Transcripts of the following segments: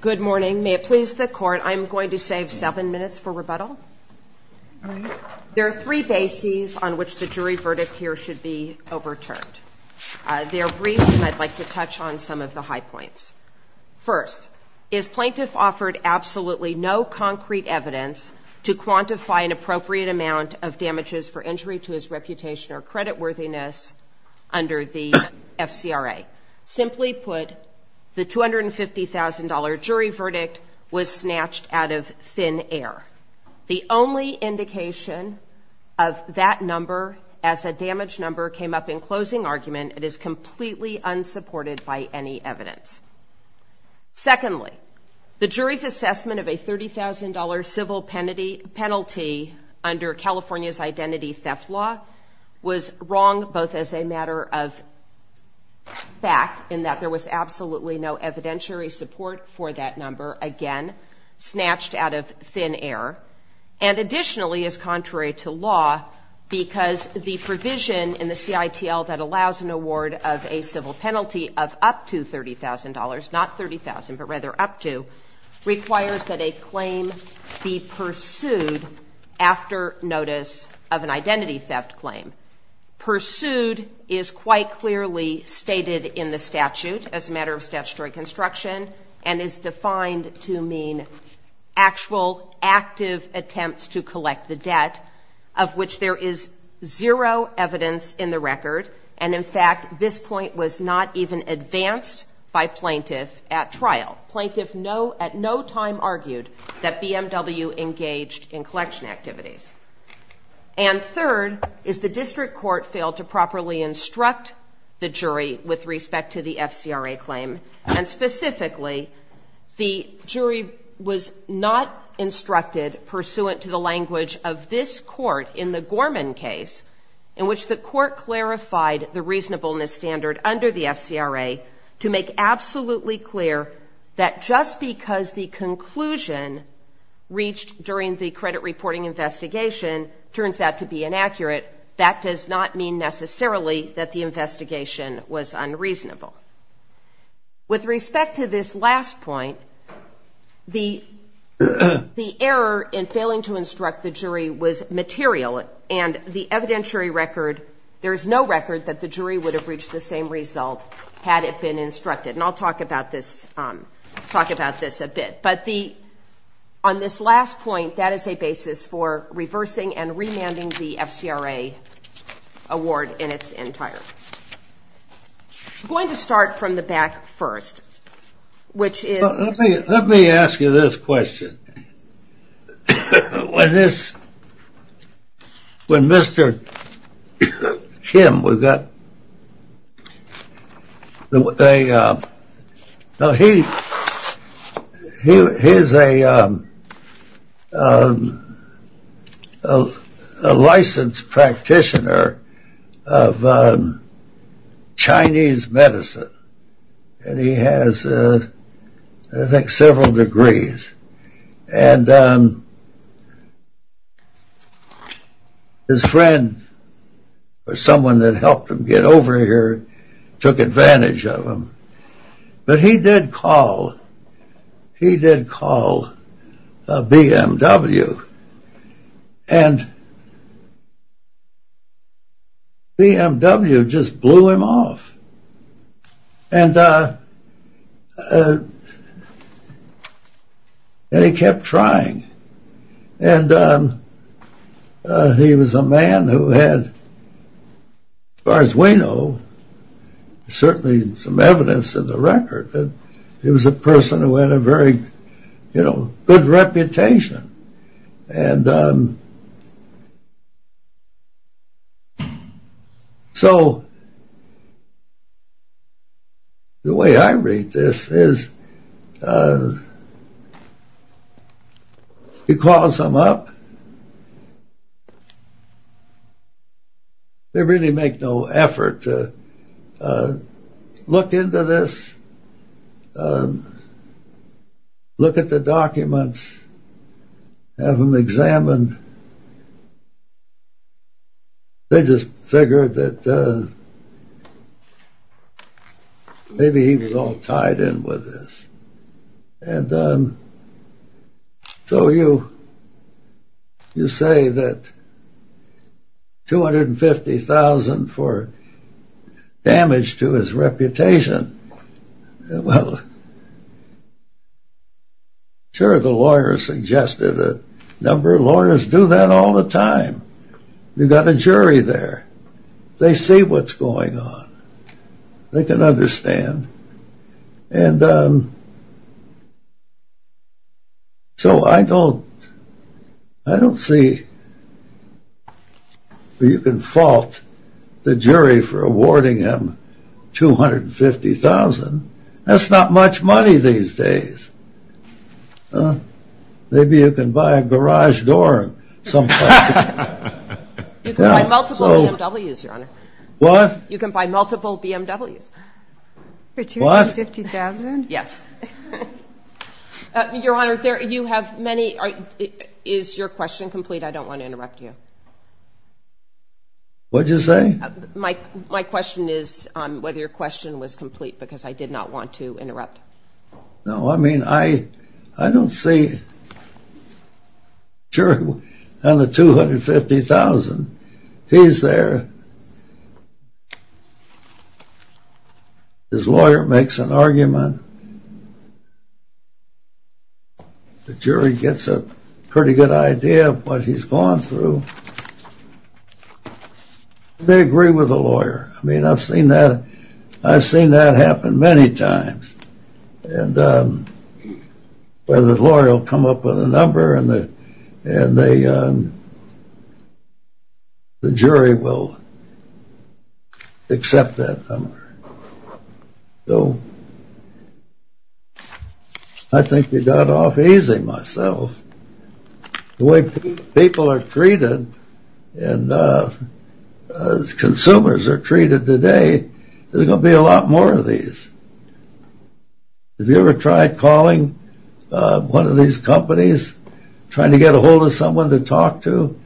Good morning. May it please the Court, I'm going to save seven minutes for rebuttal. There are three bases on which the jury verdict here should be overturned. They are brief, and I'd like to touch on some of the high points. First, is plaintiff offered absolutely no concrete evidence to quantify an appropriate amount of damages for injury to his reputation or creditworthiness under the FCRA. Simply put, the $250,000 jury verdict was snatched out of thin air. The only indication of that number as a damage number came up in closing argument. It is completely unsupported by any evidence. Secondly, the jury's assessment of a $30,000 civil penalty under California's Identity Theft Law was wrong both as a matter of fact, in that there was absolutely no evidentiary support for that number, again, snatched out of thin air, and additionally is contrary to law but rather up to, requires that a claim be pursued after notice of an identity theft claim. Pursued is quite clearly stated in the statute as a matter of statutory construction and is defined to mean actual active attempts to collect the debt, of which there is zero evidence in the record, and in fact, this point was not even advanced by plaintiff at trial. Plaintiff at no time argued that BMW engaged in collection activities. And third, is the district court failed to properly instruct the jury with respect to the FCRA claim, and specifically, the jury was not instructed pursuant to the language of this court in the Gorman case in which the court clarified the reasonableness standard under the FCRA to make absolutely clear that just because the conclusion reached during the credit reporting investigation turns out to be inaccurate, that does not mean necessarily that the investigation was unreasonable. With respect to this last point, the error in failing to instruct the jury was material and the evidentiary record, there is no record that the jury would have reached the same result had it been instructed. And I'll talk about this a bit. But on this last point, that is a basis for reversing and remanding the FCRA award in its entirety. I'm going to start from the back first, which is... When Mr. Kim, he is a licensed practitioner of Chinese medicine. And he has, I think, several degrees. And his friend, or someone that helped him get over here, took advantage of him. But he did call, he did call BMW. And BMW just blew him off. And he kept trying. And he was a man who had, as far as we know, certainly some evidence in the record, that he was a person who had a very, you know, good reputation. And so, the way I read this is, he calls them up. They really make no effort to look into this. Look at the documents. Have them examined. They just figured that maybe he was all tied in with this. And so you say that $250,000 for damage to his reputation. Well, sure, the lawyers suggested a number of lawyers do that all the time. You've got a jury there. They see what's going on. They can understand. And so I don't see where you can fault the jury for awarding him $250,000. That's not much money these days. Maybe you can buy a garage door someplace. You can buy multiple BMWs, Your Honor. What? You can buy multiple BMWs. For $250,000? Yes. Your Honor, you have many. Is your question complete? I don't want to interrupt you. What did you say? My question is whether your question was complete, because I did not want to interrupt. No, I mean, I don't see the jury on the $250,000. He's there. His lawyer makes an argument. The jury gets a pretty good idea of what he's gone through. They agree with the lawyer. I mean, I've seen that happen many times, where the lawyer will come up with a number, and the jury will accept that number. So I think you got off easy, myself. The way people are treated and consumers are treated today, there's going to be a lot more of these. Have you ever tried calling one of these companies, trying to get a hold of someone to talk to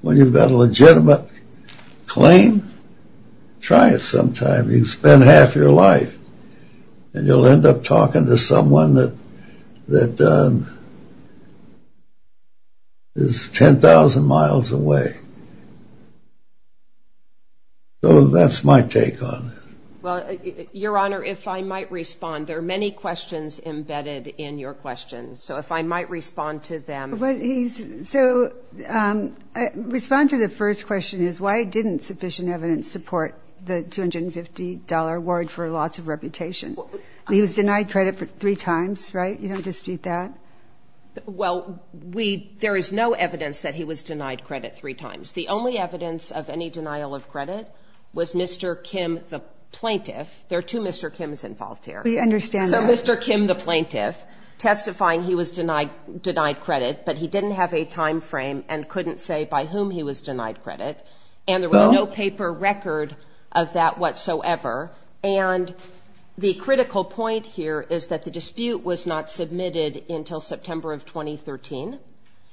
when you've got a legitimate claim? Try it sometime. You've spent half your life, and you'll end up talking to someone that is 10,000 miles away. So that's my take on it. Well, Your Honor, if I might respond, there are many questions embedded in your questions. So if I might respond to them. So respond to the first question is, why didn't sufficient evidence support the $250 award for loss of reputation? He was denied credit three times, right? You don't dispute that? Well, there is no evidence that he was denied credit three times. The only evidence of any denial of credit was Mr. Kim, the plaintiff. There are two Mr. Kims involved here. We understand that. Mr. Kim, the plaintiff, testifying he was denied credit, but he didn't have a time frame and couldn't say by whom he was denied credit. And there was no paper record of that whatsoever. And the critical point here is that the dispute was not submitted until September of 2013.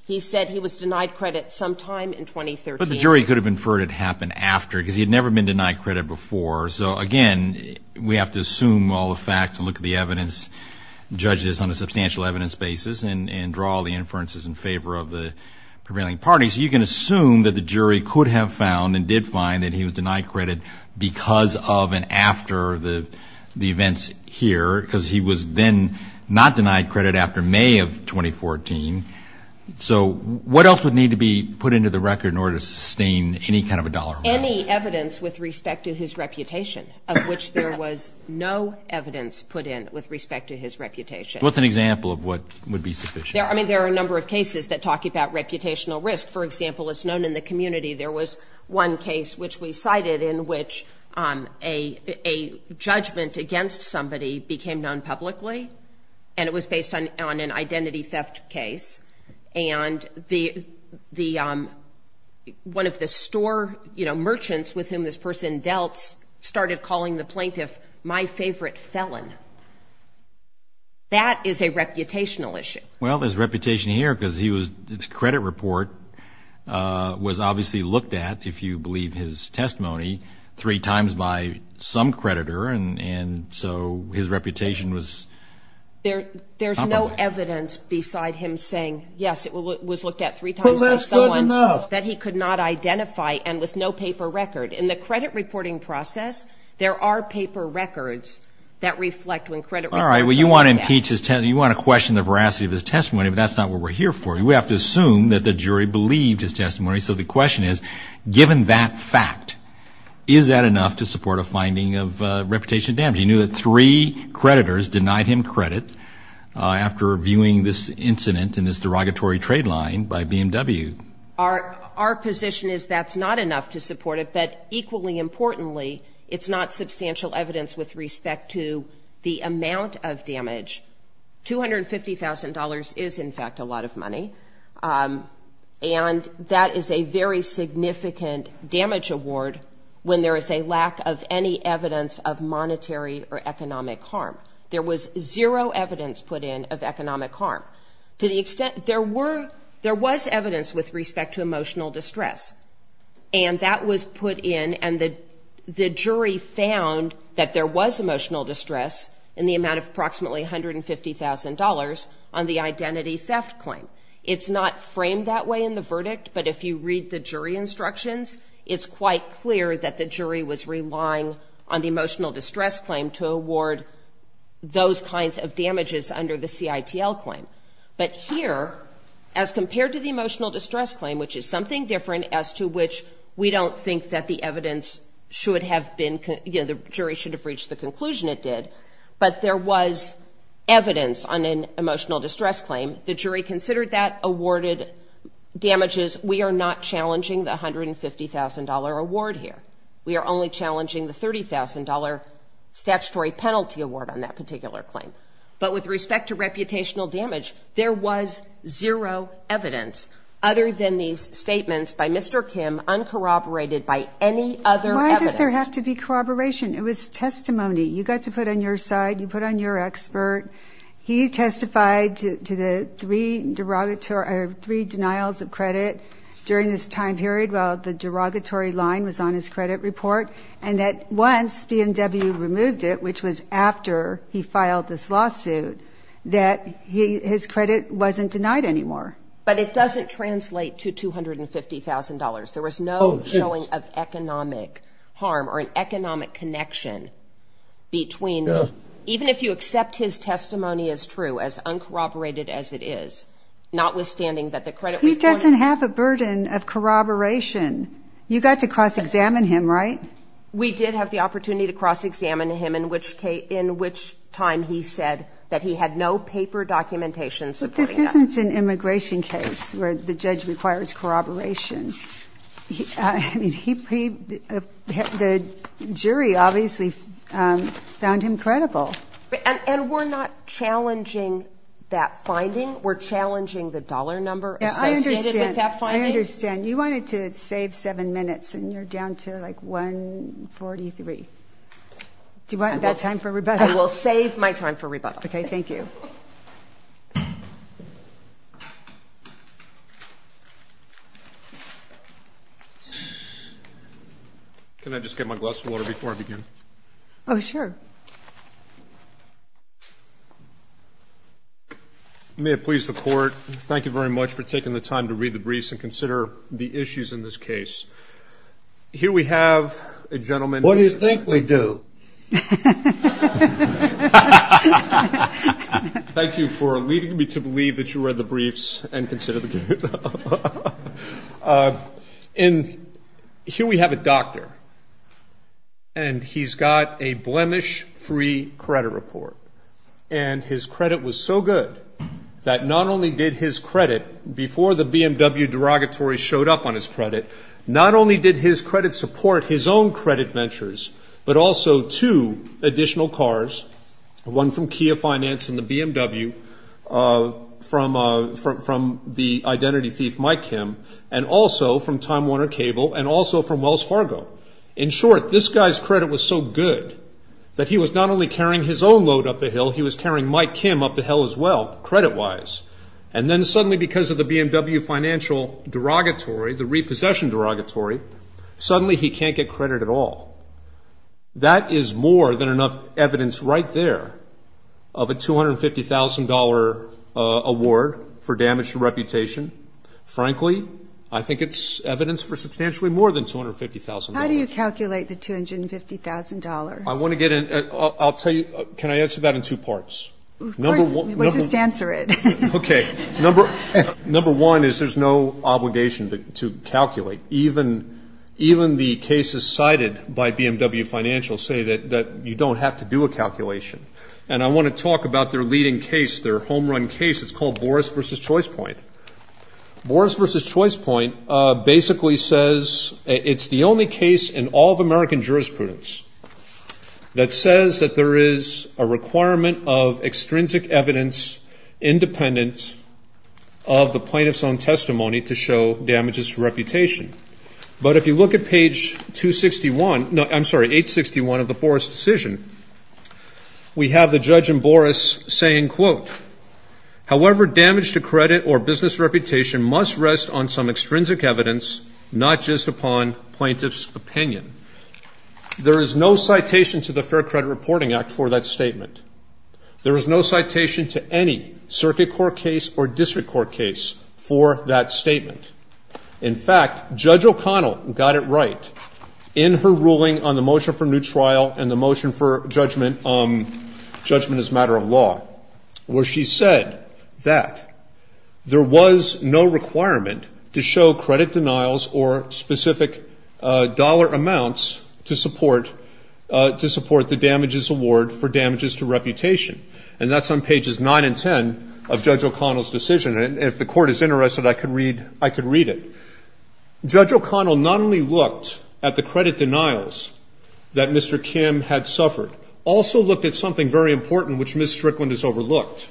He said he was denied credit sometime in 2013. But the jury could have inferred it happened after, because he had never been denied credit before. So, again, we have to assume all the facts and look at the evidence, judge this on a substantial evidence basis, and draw all the inferences in favor of the prevailing parties. You can assume that the jury could have found and did find that he was denied credit because of and after the events here, because he was then not denied credit after May of 2014. So what else would need to be put into the record in order to sustain any kind of a dollar amount? Any evidence with respect to his reputation, of which there was no evidence put in with respect to his reputation. What's an example of what would be sufficient? I mean, there are a number of cases that talk about reputational risk. For example, as known in the community, there was one case which we cited in which a judgment against somebody became known publicly, and it was based on an identity theft case. And one of the store merchants with whom this person dealt started calling the plaintiff, my favorite felon. That is a reputational issue. Well, his reputation here, because the credit report was obviously looked at, if you believe his testimony, three times by some creditor, and so his reputation was top of the list. There's no evidence beside him saying, yes, it was looked at three times by someone that he could not identify, and with no paper record. In the credit reporting process, there are paper records that reflect when credit reports are looked at. All right, well, you want to impeach his testimony, you want to question the veracity of his testimony, but that's not what we're here for. We have to assume that the jury believed his testimony. So the question is, given that fact, is that enough to support a finding of reputation damage? He knew that three creditors denied him credit after viewing this incident in this derogatory trade line by BMW. Our position is that's not enough to support it, but equally importantly, it's not substantial evidence with respect to the amount of damage. $250,000 is, in fact, a lot of money, and that is a very significant damage award when there is a lack of any evidence of monetary or economic harm. There was zero evidence put in of economic harm. To the extent there were, there was evidence with respect to emotional distress, and that was put in and the jury found that there was emotional distress in the amount of approximately $150,000 on the identity theft claim. It's not framed that way in the verdict, but if you read the jury instructions, it's quite clear that the jury was relying on the emotional distress claim to award those kinds of damages under the CITL claim. But here, as compared to the emotional distress claim, which is something different as to which we don't think that the evidence should have been, you know, the jury should have reached the conclusion it did, but there was evidence on an emotional distress claim. The jury considered that, awarded damages. We are not challenging the $150,000 award here. We are only challenging the $30,000 statutory penalty award on that particular claim. But with respect to reputational damage, there was zero evidence, other than these statements by Mr. Kim, uncorroborated by any other evidence. Why does there have to be corroboration? It was testimony. You got to put on your side, you put on your expert. He testified to the three denials of credit during this time period while the derogatory line was on his credit report, and that once BMW removed it, which was after he filed this lawsuit, that his credit wasn't denied anymore. But it doesn't translate to $250,000. There was no showing of economic harm or an economic connection between the, even if you accept his testimony as true, as uncorroborated as it is, notwithstanding that the credit report. He doesn't have a burden of corroboration. You got to cross-examine him, right? We did have the opportunity to cross-examine him, in which time he said that he had no paper documentation supporting that. It wasn't an immigration case where the judge requires corroboration. I mean, the jury obviously found him credible. And we're not challenging that finding. We're challenging the dollar number associated with that finding. I understand. You wanted to save seven minutes, and you're down to, like, 1.43. Do you want that time for rebuttal? I will save my time for rebuttal. Okay, thank you. Can I just get my glass of water before I begin? Oh, sure. May it please the Court, thank you very much for taking the time to read the briefs and consider the issues in this case. Here we have a gentleman. What do you think we do? Thank you for leading me to believe that you read the briefs and consider the case. And here we have a doctor, and he's got a blemish-free credit report. And his credit was so good that not only did his credit, before the BMW derogatory showed up on his credit, not only did his credit support his own credit ventures, but also two additional cars, one from Kia Finance and the BMW, from the identity thief Mike Kim, and also from Time Warner Cable, and also from Wells Fargo. In short, this guy's credit was so good that he was not only carrying his own load up the hill, he was carrying Mike Kim up the hill as well, credit-wise. And then suddenly because of the BMW financial derogatory, the repossession derogatory, suddenly he can't get credit at all. That is more than enough evidence right there of a $250,000 award for damage to reputation. Frankly, I think it's evidence for substantially more than $250,000. How do you calculate the $250,000? I want to get in. I'll tell you. Can I answer that in two parts? Of course. Just answer it. Okay. Number one is there's no obligation to calculate. Even the cases cited by BMW Financial say that you don't have to do a calculation. And I want to talk about their leading case, their home-run case. It's called Boris v. Choice Point. Boris v. Choice Point basically says it's the only case in all of American jurisprudence that says that there is a requirement of extrinsic evidence independent of the plaintiff's own testimony to show damages to reputation. But if you look at page 261 no, I'm sorry, 861 of the Boris decision, we have the judge in Boris saying, quote, however damage to credit or business reputation must rest on some extrinsic evidence, not just upon plaintiff's opinion. There is no citation to the Fair Credit Reporting Act for that statement. There is no citation to any circuit court case or district court case for that statement. In fact, Judge O'Connell got it right in her ruling on the motion for new trial and the motion for judgment as a matter of law, where she said that there was no requirement to show credit denials or specific dollar amounts to support the damages award for damages to reputation. And that's on pages 9 and 10 of Judge O'Connell's decision. And if the court is interested, I could read it. Judge O'Connell not only looked at the credit denials that Mr. Kim had suffered, also looked at something very important which Ms. Strickland has overlooked,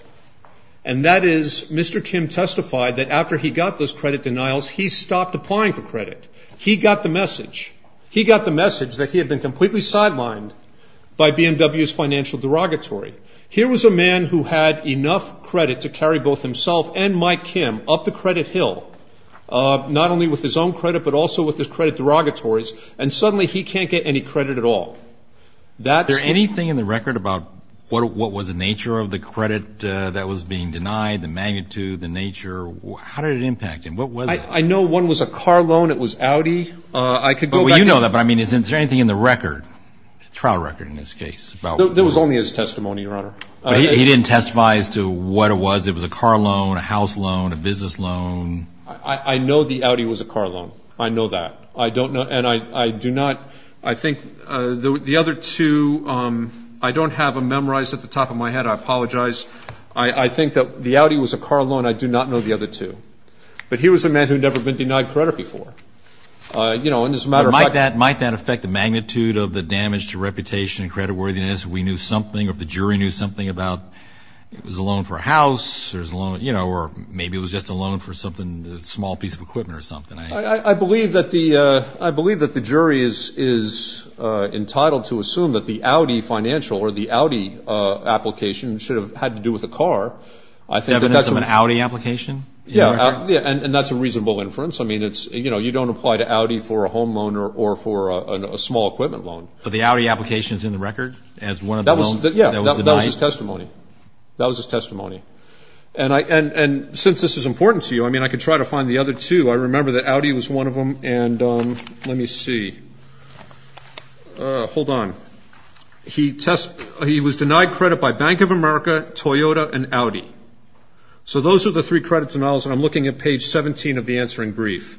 and that is Mr. Kim testified that after he got those credit denials, he stopped applying for credit. He got the message. He got the message that he had been completely sidelined by BMW's financial derogatory. Here was a man who had enough credit to carry both himself and Mike Kim up the credit hill, not only with his own credit but also with his credit derogatories, and suddenly he can't get any credit at all. Is there anything in the record about what was the nature of the credit that was being denied, the magnitude, the nature? How did it impact him? What was it? I know one was a car loan. It was Audi. I could go back. Well, you know that, but, I mean, is there anything in the record, trial record in this case? There was only his testimony, Your Honor. He didn't testify as to what it was. It was a car loan, a house loan, a business loan. I know the Audi was a car loan. I know that. I don't know, and I do not, I think the other two, I don't have them memorized at the top of my head. I apologize. I think that the Audi was a car loan. I do not know the other two. But he was a man who had never been denied credit before. You know, and as a matter of fact. Might that affect the magnitude of the damage to reputation and creditworthiness if we knew something, or if the jury knew something about it was a loan for a house, you know, or maybe it was just a loan for something, a small piece of equipment or something? I believe that the jury is entitled to assume that the Audi financial or the Audi application should have had to do with a car. Evidence of an Audi application? Yeah, and that's a reasonable inference. I mean, it's, you know, you don't apply to Audi for a home loan or for a small equipment loan. But the Audi application is in the record as one of the loans that was denied? Yeah, that was his testimony. That was his testimony. And since this is important to you, I mean, I could try to find the other two. I remember that Audi was one of them, and let me see. Hold on. He was denied credit by Bank of America, Toyota, and Audi. So those are the three credit denials, and I'm looking at page 17 of the answering brief.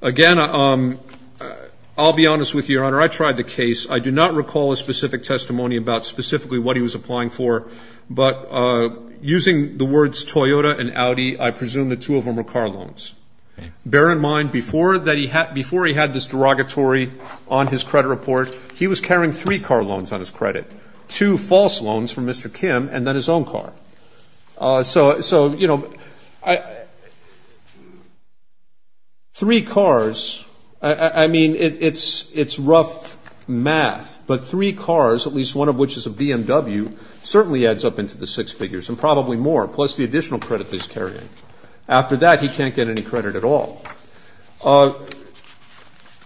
Again, I'll be honest with you, Your Honor. I tried the case. I do not recall a specific testimony about specifically what he was applying for. But using the words Toyota and Audi, I presume the two of them were car loans. Bear in mind, before he had this derogatory on his credit report, he was carrying three car loans on his credit, two false loans from Mr. Kim and then his own car. So, you know, three cars, I mean, it's rough math, but three cars, at least one of which is a BMW, certainly adds up into the six figures, and probably more, plus the additional credit that he's carrying. After that, he can't get any credit at all.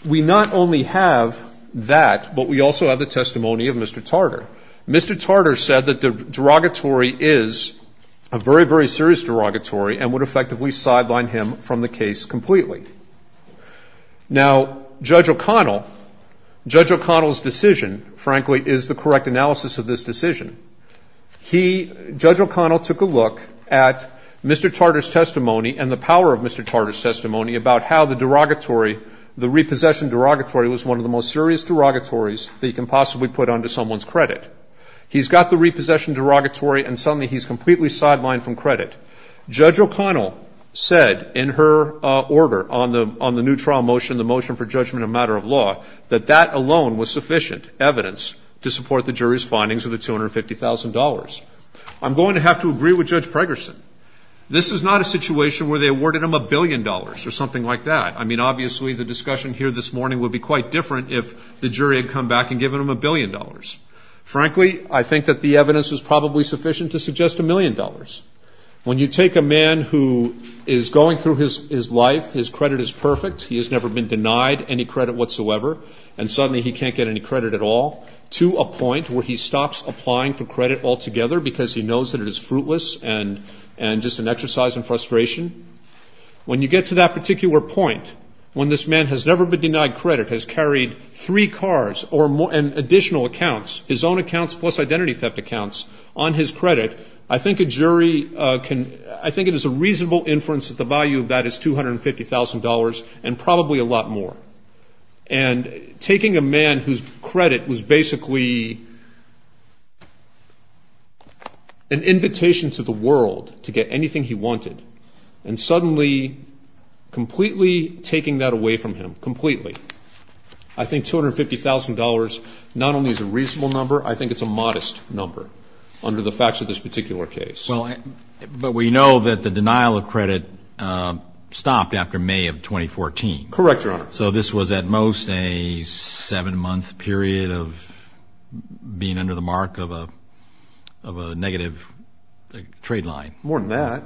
We not only have that, but we also have the testimony of Mr. Tartar. Mr. Tartar said that the derogatory is a very, very serious derogatory and would effectively sideline him from the case completely. Now, Judge O'Connell, Judge O'Connell's decision, frankly, is the correct analysis of this decision. He, Judge O'Connell, took a look at Mr. Tartar's testimony and the power of Mr. Tartar's testimony about how the derogatory, the repossession derogatory was one of the most serious derogatories that you can possibly put onto someone's credit. He's got the repossession derogatory and suddenly he's completely sidelined from credit. Judge O'Connell said in her order on the new trial motion, the motion for judgment of matter of law, that that alone was sufficient evidence to support the jury's findings of the $250,000. I'm going to have to agree with Judge Pregerson. This is not a situation where they awarded him a billion dollars or something like that. I mean, obviously, the discussion here this morning would be quite different if the jury had come back and given him a billion dollars. Frankly, I think that the evidence was probably sufficient to suggest a million dollars. When you take a man who is going through his life, his credit is perfect, he has never been denied any credit whatsoever, and suddenly he can't get any credit at all, to a point where he stops applying for credit altogether because he knows that it is fruitless and just an exercise in frustration, when you get to that particular point, when this man has never been denied credit, has carried three cars and additional accounts, his own accounts plus identity theft accounts, on his credit, I think a jury can – I think it is a reasonable inference that the value of that is $250,000 and probably a lot more. And taking a man whose credit was basically an invitation to the world to get anything he wanted, and suddenly completely taking that away from him, completely, I think $250,000 not only is a reasonable number, I think it is a modest number under the facts of this particular case. But we know that the denial of credit stopped after May of 2014. Correct, Your Honor. So this was at most a seven-month period of being under the mark of a negative trade line. More than that,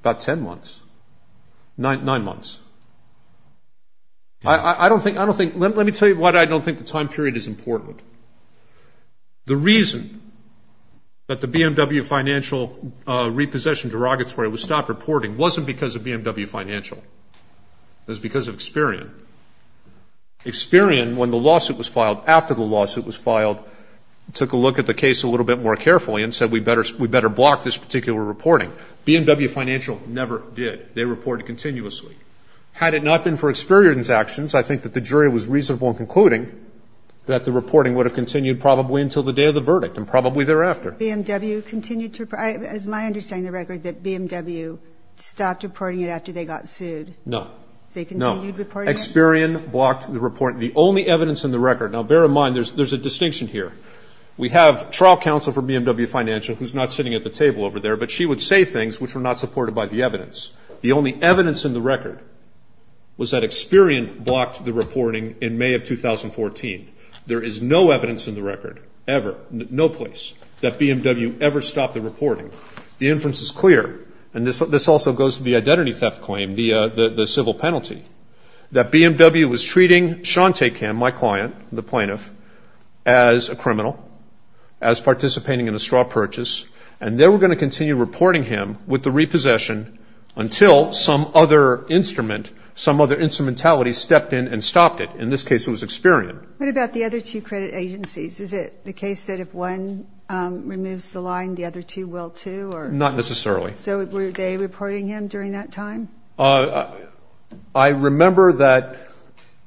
about ten months, nine months. I don't think – let me tell you why I don't think the time period is important. The reason that the BMW Financial repossession derogatory was stopped reporting wasn't because of BMW Financial. It was because of Experian. Experian, when the lawsuit was filed, after the lawsuit was filed, took a look at the case a little bit more carefully and said, we better block this particular reporting. BMW Financial never did. They reported continuously. Had it not been for Experian's actions, I think that the jury was reasonable in concluding that the reporting would have continued probably until the day of the verdict and probably thereafter. BMW continued to – it's my understanding of the record that BMW stopped reporting it after they got sued. No. They continued reporting it? No. Experian blocked the report. The only evidence in the record – now, bear in mind, there's a distinction here. We have trial counsel for BMW Financial who's not sitting at the table over there, but she would say things which were not supported by the evidence. The only evidence in the record was that Experian blocked the reporting in May of 2014. There is no evidence in the record ever, no place, that BMW ever stopped the reporting. The inference is clear, and this also goes to the identity theft claim, the civil penalty, that BMW was treating Shante Kim, my client, the plaintiff, as a criminal, as participating in a straw purchase, and they were going to continue reporting him with the repossession until some other instrument, some other instrumentality stepped in and stopped it. In this case, it was Experian. What about the other two credit agencies? Is it the case that if one removes the line, the other two will too? Not necessarily. So were they reporting him during that time? I remember that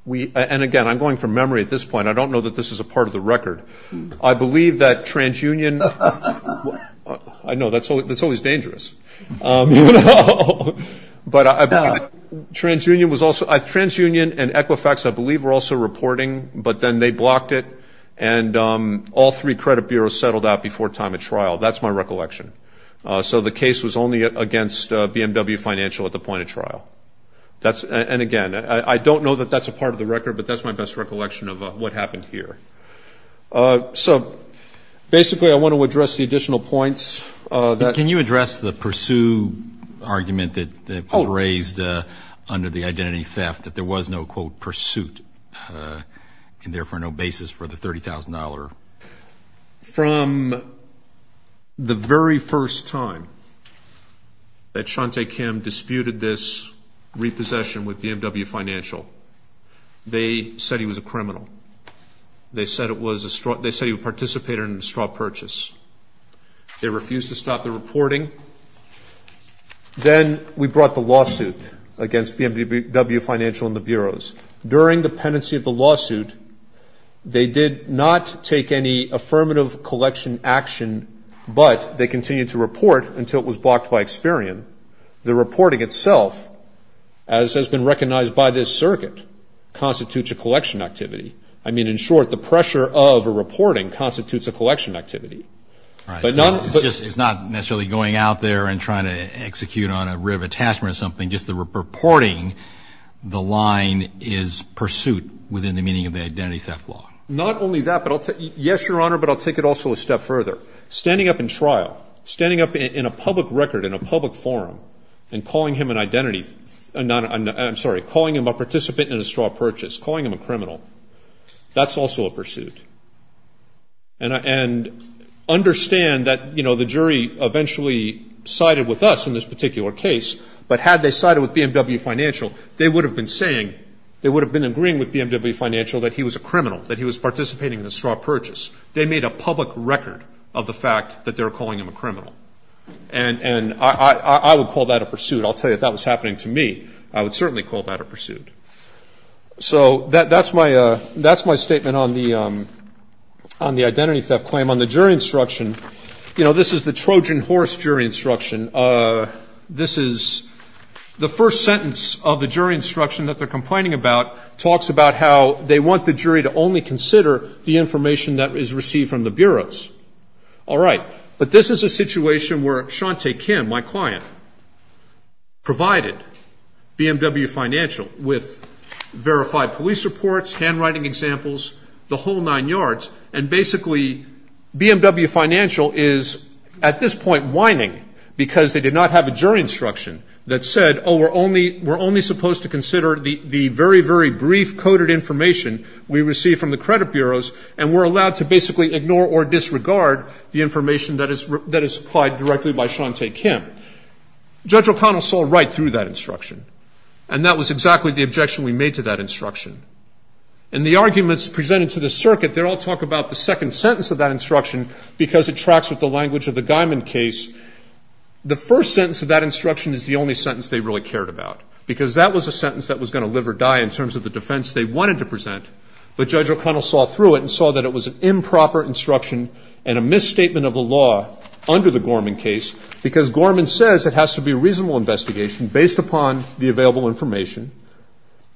we – and, again, I'm going from memory at this point. I don't know that this is a part of the record. I believe that TransUnion – I know, that's always dangerous. But I believe TransUnion was also – TransUnion and Equifax, I believe, were also reporting, but then they blocked it, and all three credit bureaus settled out before time of trial. That's my recollection. So the case was only against BMW Financial at the point of trial. And, again, I don't know that that's a part of the record, but that's my best recollection of what happened here. So, basically, I want to address the additional points. Can you address the pursue argument that was raised under the identity theft, that there was no, quote, and therefore no basis for the $30,000? From the very first time that Shantae Kim disputed this repossession with BMW Financial, they said he was a criminal. They said he participated in a straw purchase. They refused to stop the reporting. Then we brought the lawsuit against BMW Financial and the bureaus. During the pendency of the lawsuit, they did not take any affirmative collection action, but they continued to report until it was blocked by Experian. The reporting itself, as has been recognized by this circuit, constitutes a collection activity. I mean, in short, the pressure of a reporting constitutes a collection activity. It's not necessarily going out there and trying to execute on a rib, a task, or something. Just the reporting, the line is pursuit within the meaning of the identity theft law. Not only that, but I'll tell you, yes, Your Honor, but I'll take it also a step further. Standing up in trial, standing up in a public record, in a public forum, and calling him an identity, I'm sorry, calling him a participant in a straw purchase, calling him a criminal, that's also a pursuit. And understand that, you know, the jury eventually sided with us in this particular case, but had they sided with BMW Financial, they would have been saying, they would have been agreeing with BMW Financial that he was a criminal, that he was participating in a straw purchase. They made a public record of the fact that they were calling him a criminal. And I would call that a pursuit. I'll tell you, if that was happening to me, I would certainly call that a pursuit. So that's my statement on the identity theft claim. On the jury instruction, you know, this is the Trojan horse jury instruction. This is the first sentence of the jury instruction that they're complaining about, talks about how they want the jury to only consider the information that is received from the bureaus. All right. But this is a situation where Shantae Kim, my client, provided BMW Financial with verified police reports, handwriting examples, the whole nine yards, and basically BMW Financial is at this point whining because they did not have a jury instruction that said, oh, we're only supposed to consider the very, very brief coded information we receive from the credit bureaus, and we're allowed to basically ignore or disregard the information that is supplied directly by Shantae Kim. Judge O'Connell saw right through that instruction. And that was exactly the objection we made to that instruction. In the arguments presented to the circuit, they don't talk about the second sentence of that instruction because it tracks with the language of the Guymon case. The first sentence of that instruction is the only sentence they really cared about, because that was a sentence that was going to live or die in terms of the defense they wanted to present. But Judge O'Connell saw through it and saw that it was an improper instruction and a misstatement of the law under the Gorman case, because Gorman says it has to be a reasonable investigation based upon the available information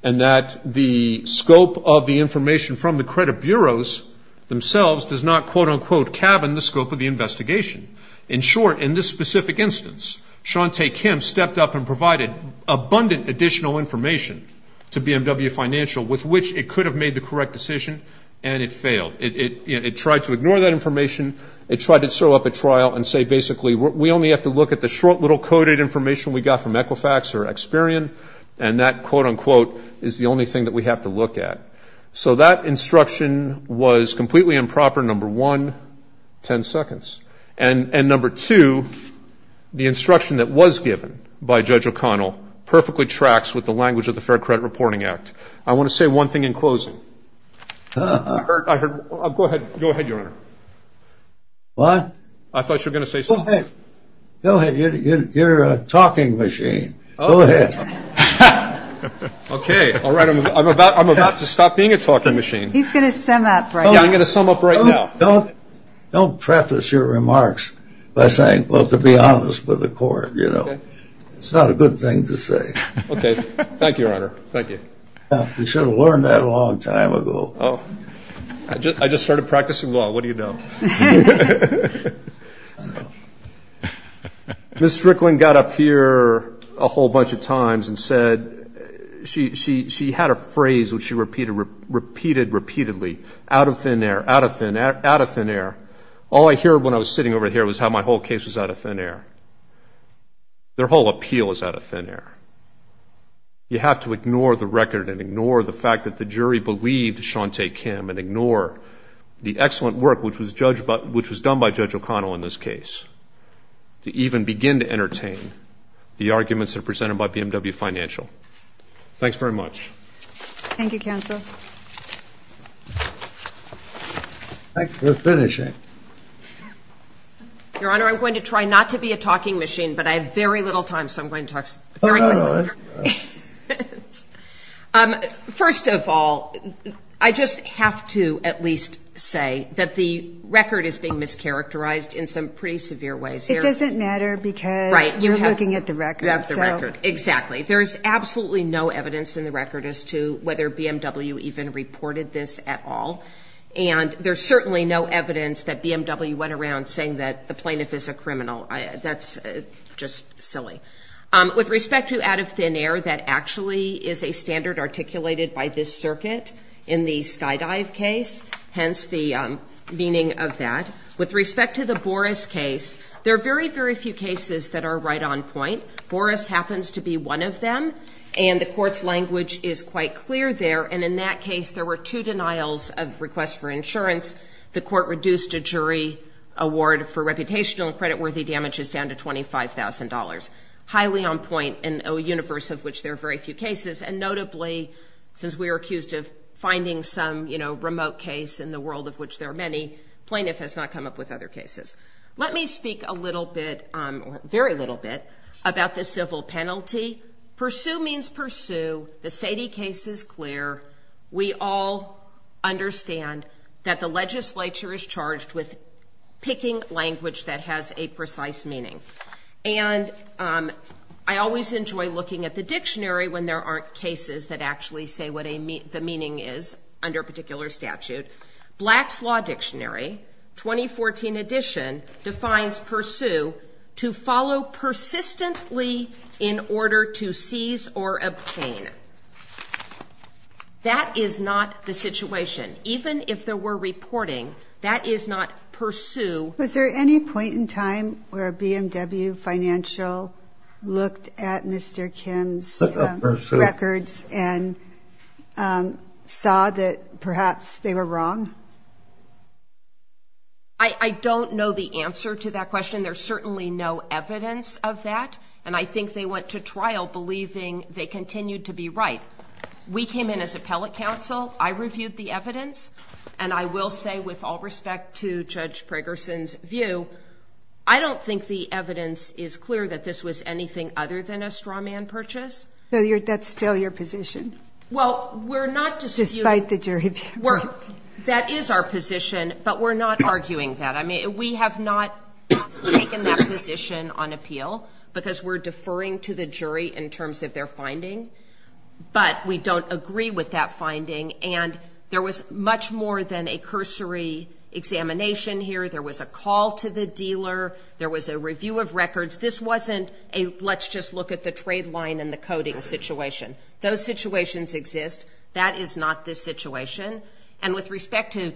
and that the scope of the information from the credit bureaus themselves does not, quote, unquote, cabin the scope of the investigation. In short, in this specific instance, Shantae Kim stepped up and provided abundant additional information to BMW Financial with which it could have made the correct decision, and it failed. It tried to ignore that information. It tried to throw up a trial and say, basically, we only have to look at the short little coded information we got from Equifax or Experian, and that, quote, unquote, is the only thing that we have to look at. So that instruction was completely improper, number one, 10 seconds. And number two, the instruction that was given by Judge O'Connell perfectly tracks with the language of the Fair Credit Reporting Act. I want to say one thing in closing. Go ahead, Your Honor. What? I thought you were going to say something. Go ahead. You're a talking machine. Go ahead. Okay. All right. I'm about to stop being a talking machine. He's going to sum up right now. I'm going to sum up right now. Don't preface your remarks by saying, well, to be honest with the court, you know. It's not a good thing to say. Thank you, Your Honor. Thank you. You should have learned that a long time ago. I just started practicing law. What do you know? Ms. Strickland got up here a whole bunch of times and said she had a phrase which she repeated repeatedly, out of thin air, out of thin air, out of thin air. All I heard when I was sitting over here was how my whole case was out of thin air. Their whole appeal is out of thin air. You have to ignore the record and ignore the fact that the jury believed Shantae Kim and ignore the excellent work which was done by Judge O'Connell in this case to even begin to entertain the arguments that are presented by BMW Financial. Thanks very much. Thank you, Counsel. Thanks for finishing. Your Honor, I'm going to try not to be a talking machine, but I have very little time, so I'm going to talk very quickly. First of all, I just have to at least say that the record is being mischaracterized in some pretty severe ways here. It doesn't matter because you're looking at the record. Right. You have the record. Exactly. There is absolutely no evidence in the record as to whether BMW even reported this at all, and there's certainly no evidence that BMW went around saying that the plaintiff is a criminal. That's just silly. With respect to out of thin air, that actually is a standard articulated by this circuit in the Skydive case, hence the meaning of that. With respect to the Boris case, there are very, very few cases that are right on point. Boris happens to be one of them, and the court's language is quite clear there, and in that case there were two denials of requests for insurance. The court reduced a jury award for reputational and creditworthy damages down to $25,000. Highly on point in a universe of which there are very few cases, and notably since we are accused of finding some remote case in the world of which there are many, plaintiff has not come up with other cases. Let me speak a little bit, very little bit, about the civil penalty. Pursue means pursue. The Sady case is clear. We all understand that the legislature is charged with picking language that has a precise meaning, and I always enjoy looking at the dictionary when there aren't cases that actually say what the meaning is under a particular statute. Black's Law Dictionary, 2014 edition, defines pursue to follow persistently in order to seize or obtain. That is not the situation. Even if there were reporting, that is not pursue. Was there any point in time where BMW Financial looked at Mr. Kim's records and saw that perhaps they were wrong? I don't know the answer to that question. There's certainly no evidence of that, and I think they went to trial believing they continued to be right. We came in as appellate counsel. I reviewed the evidence, and I will say with all respect to Judge Pragerson's view, I don't think the evidence is clear that this was anything other than a straw man purchase. So that's still your position? Well, we're not disputing. Despite the jury view. That is our position, but we're not arguing that. I mean, we have not taken that position on appeal because we're deferring to the jury in terms of their finding, but we don't agree with that finding, and there was much more than a cursory examination here. There was a call to the dealer. There was a review of records. This wasn't a let's just look at the trade line and the coding situation. Those situations exist. That is not this situation. And with respect to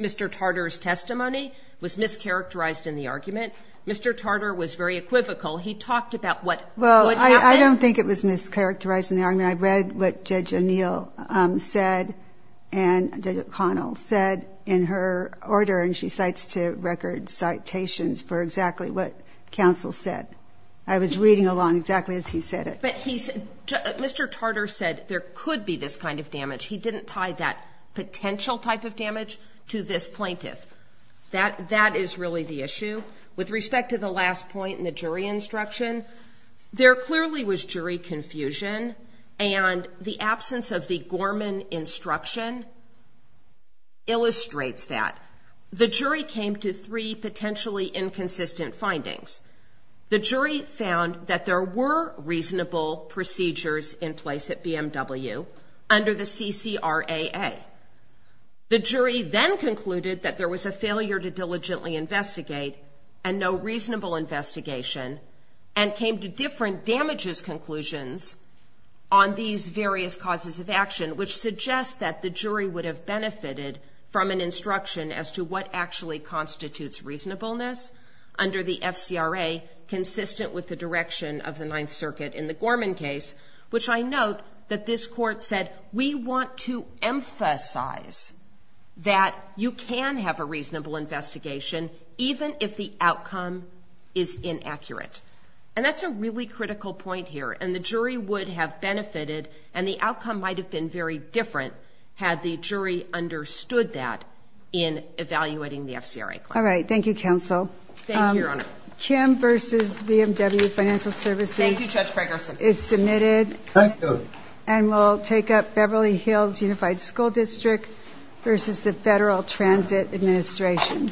Mr. Tartar's testimony, it was mischaracterized in the argument. Mr. Tartar was very equivocal. He talked about what would happen. Well, I don't think it was mischaracterized in the argument. I read what Judge O'Neill said and Judge O'Connell said in her order, and she cites to record citations for exactly what counsel said. I was reading along exactly as he said it. But Mr. Tartar said there could be this kind of damage. He didn't tie that potential type of damage to this plaintiff. That is really the issue. With respect to the last point in the jury instruction, there clearly was jury confusion, and the absence of the Gorman instruction illustrates that. The jury came to three potentially inconsistent findings. The jury found that there were reasonable procedures in place at BMW under the CCRAA. The jury then concluded that there was a failure to diligently investigate and no reasonable investigation and came to different damages conclusions on these various causes of action, which suggests that the jury would have benefited from an instruction as to what actually constitutes reasonableness under the FCRA consistent with the direction of the Ninth Circuit in the Gorman case, which I note that this court said, we want to emphasize that you can have a reasonable investigation even if the outcome is inaccurate. And that's a really critical point here, and the jury would have benefited and the outcome might have been very different had the jury understood that in evaluating the FCRA claim. All right. Thank you, counsel. Thank you, Your Honor. Kim v. BMW Financial Services is submitted. Thank you. And we'll take up Beverly Hills Unified School District v. the Federal Transit Administration.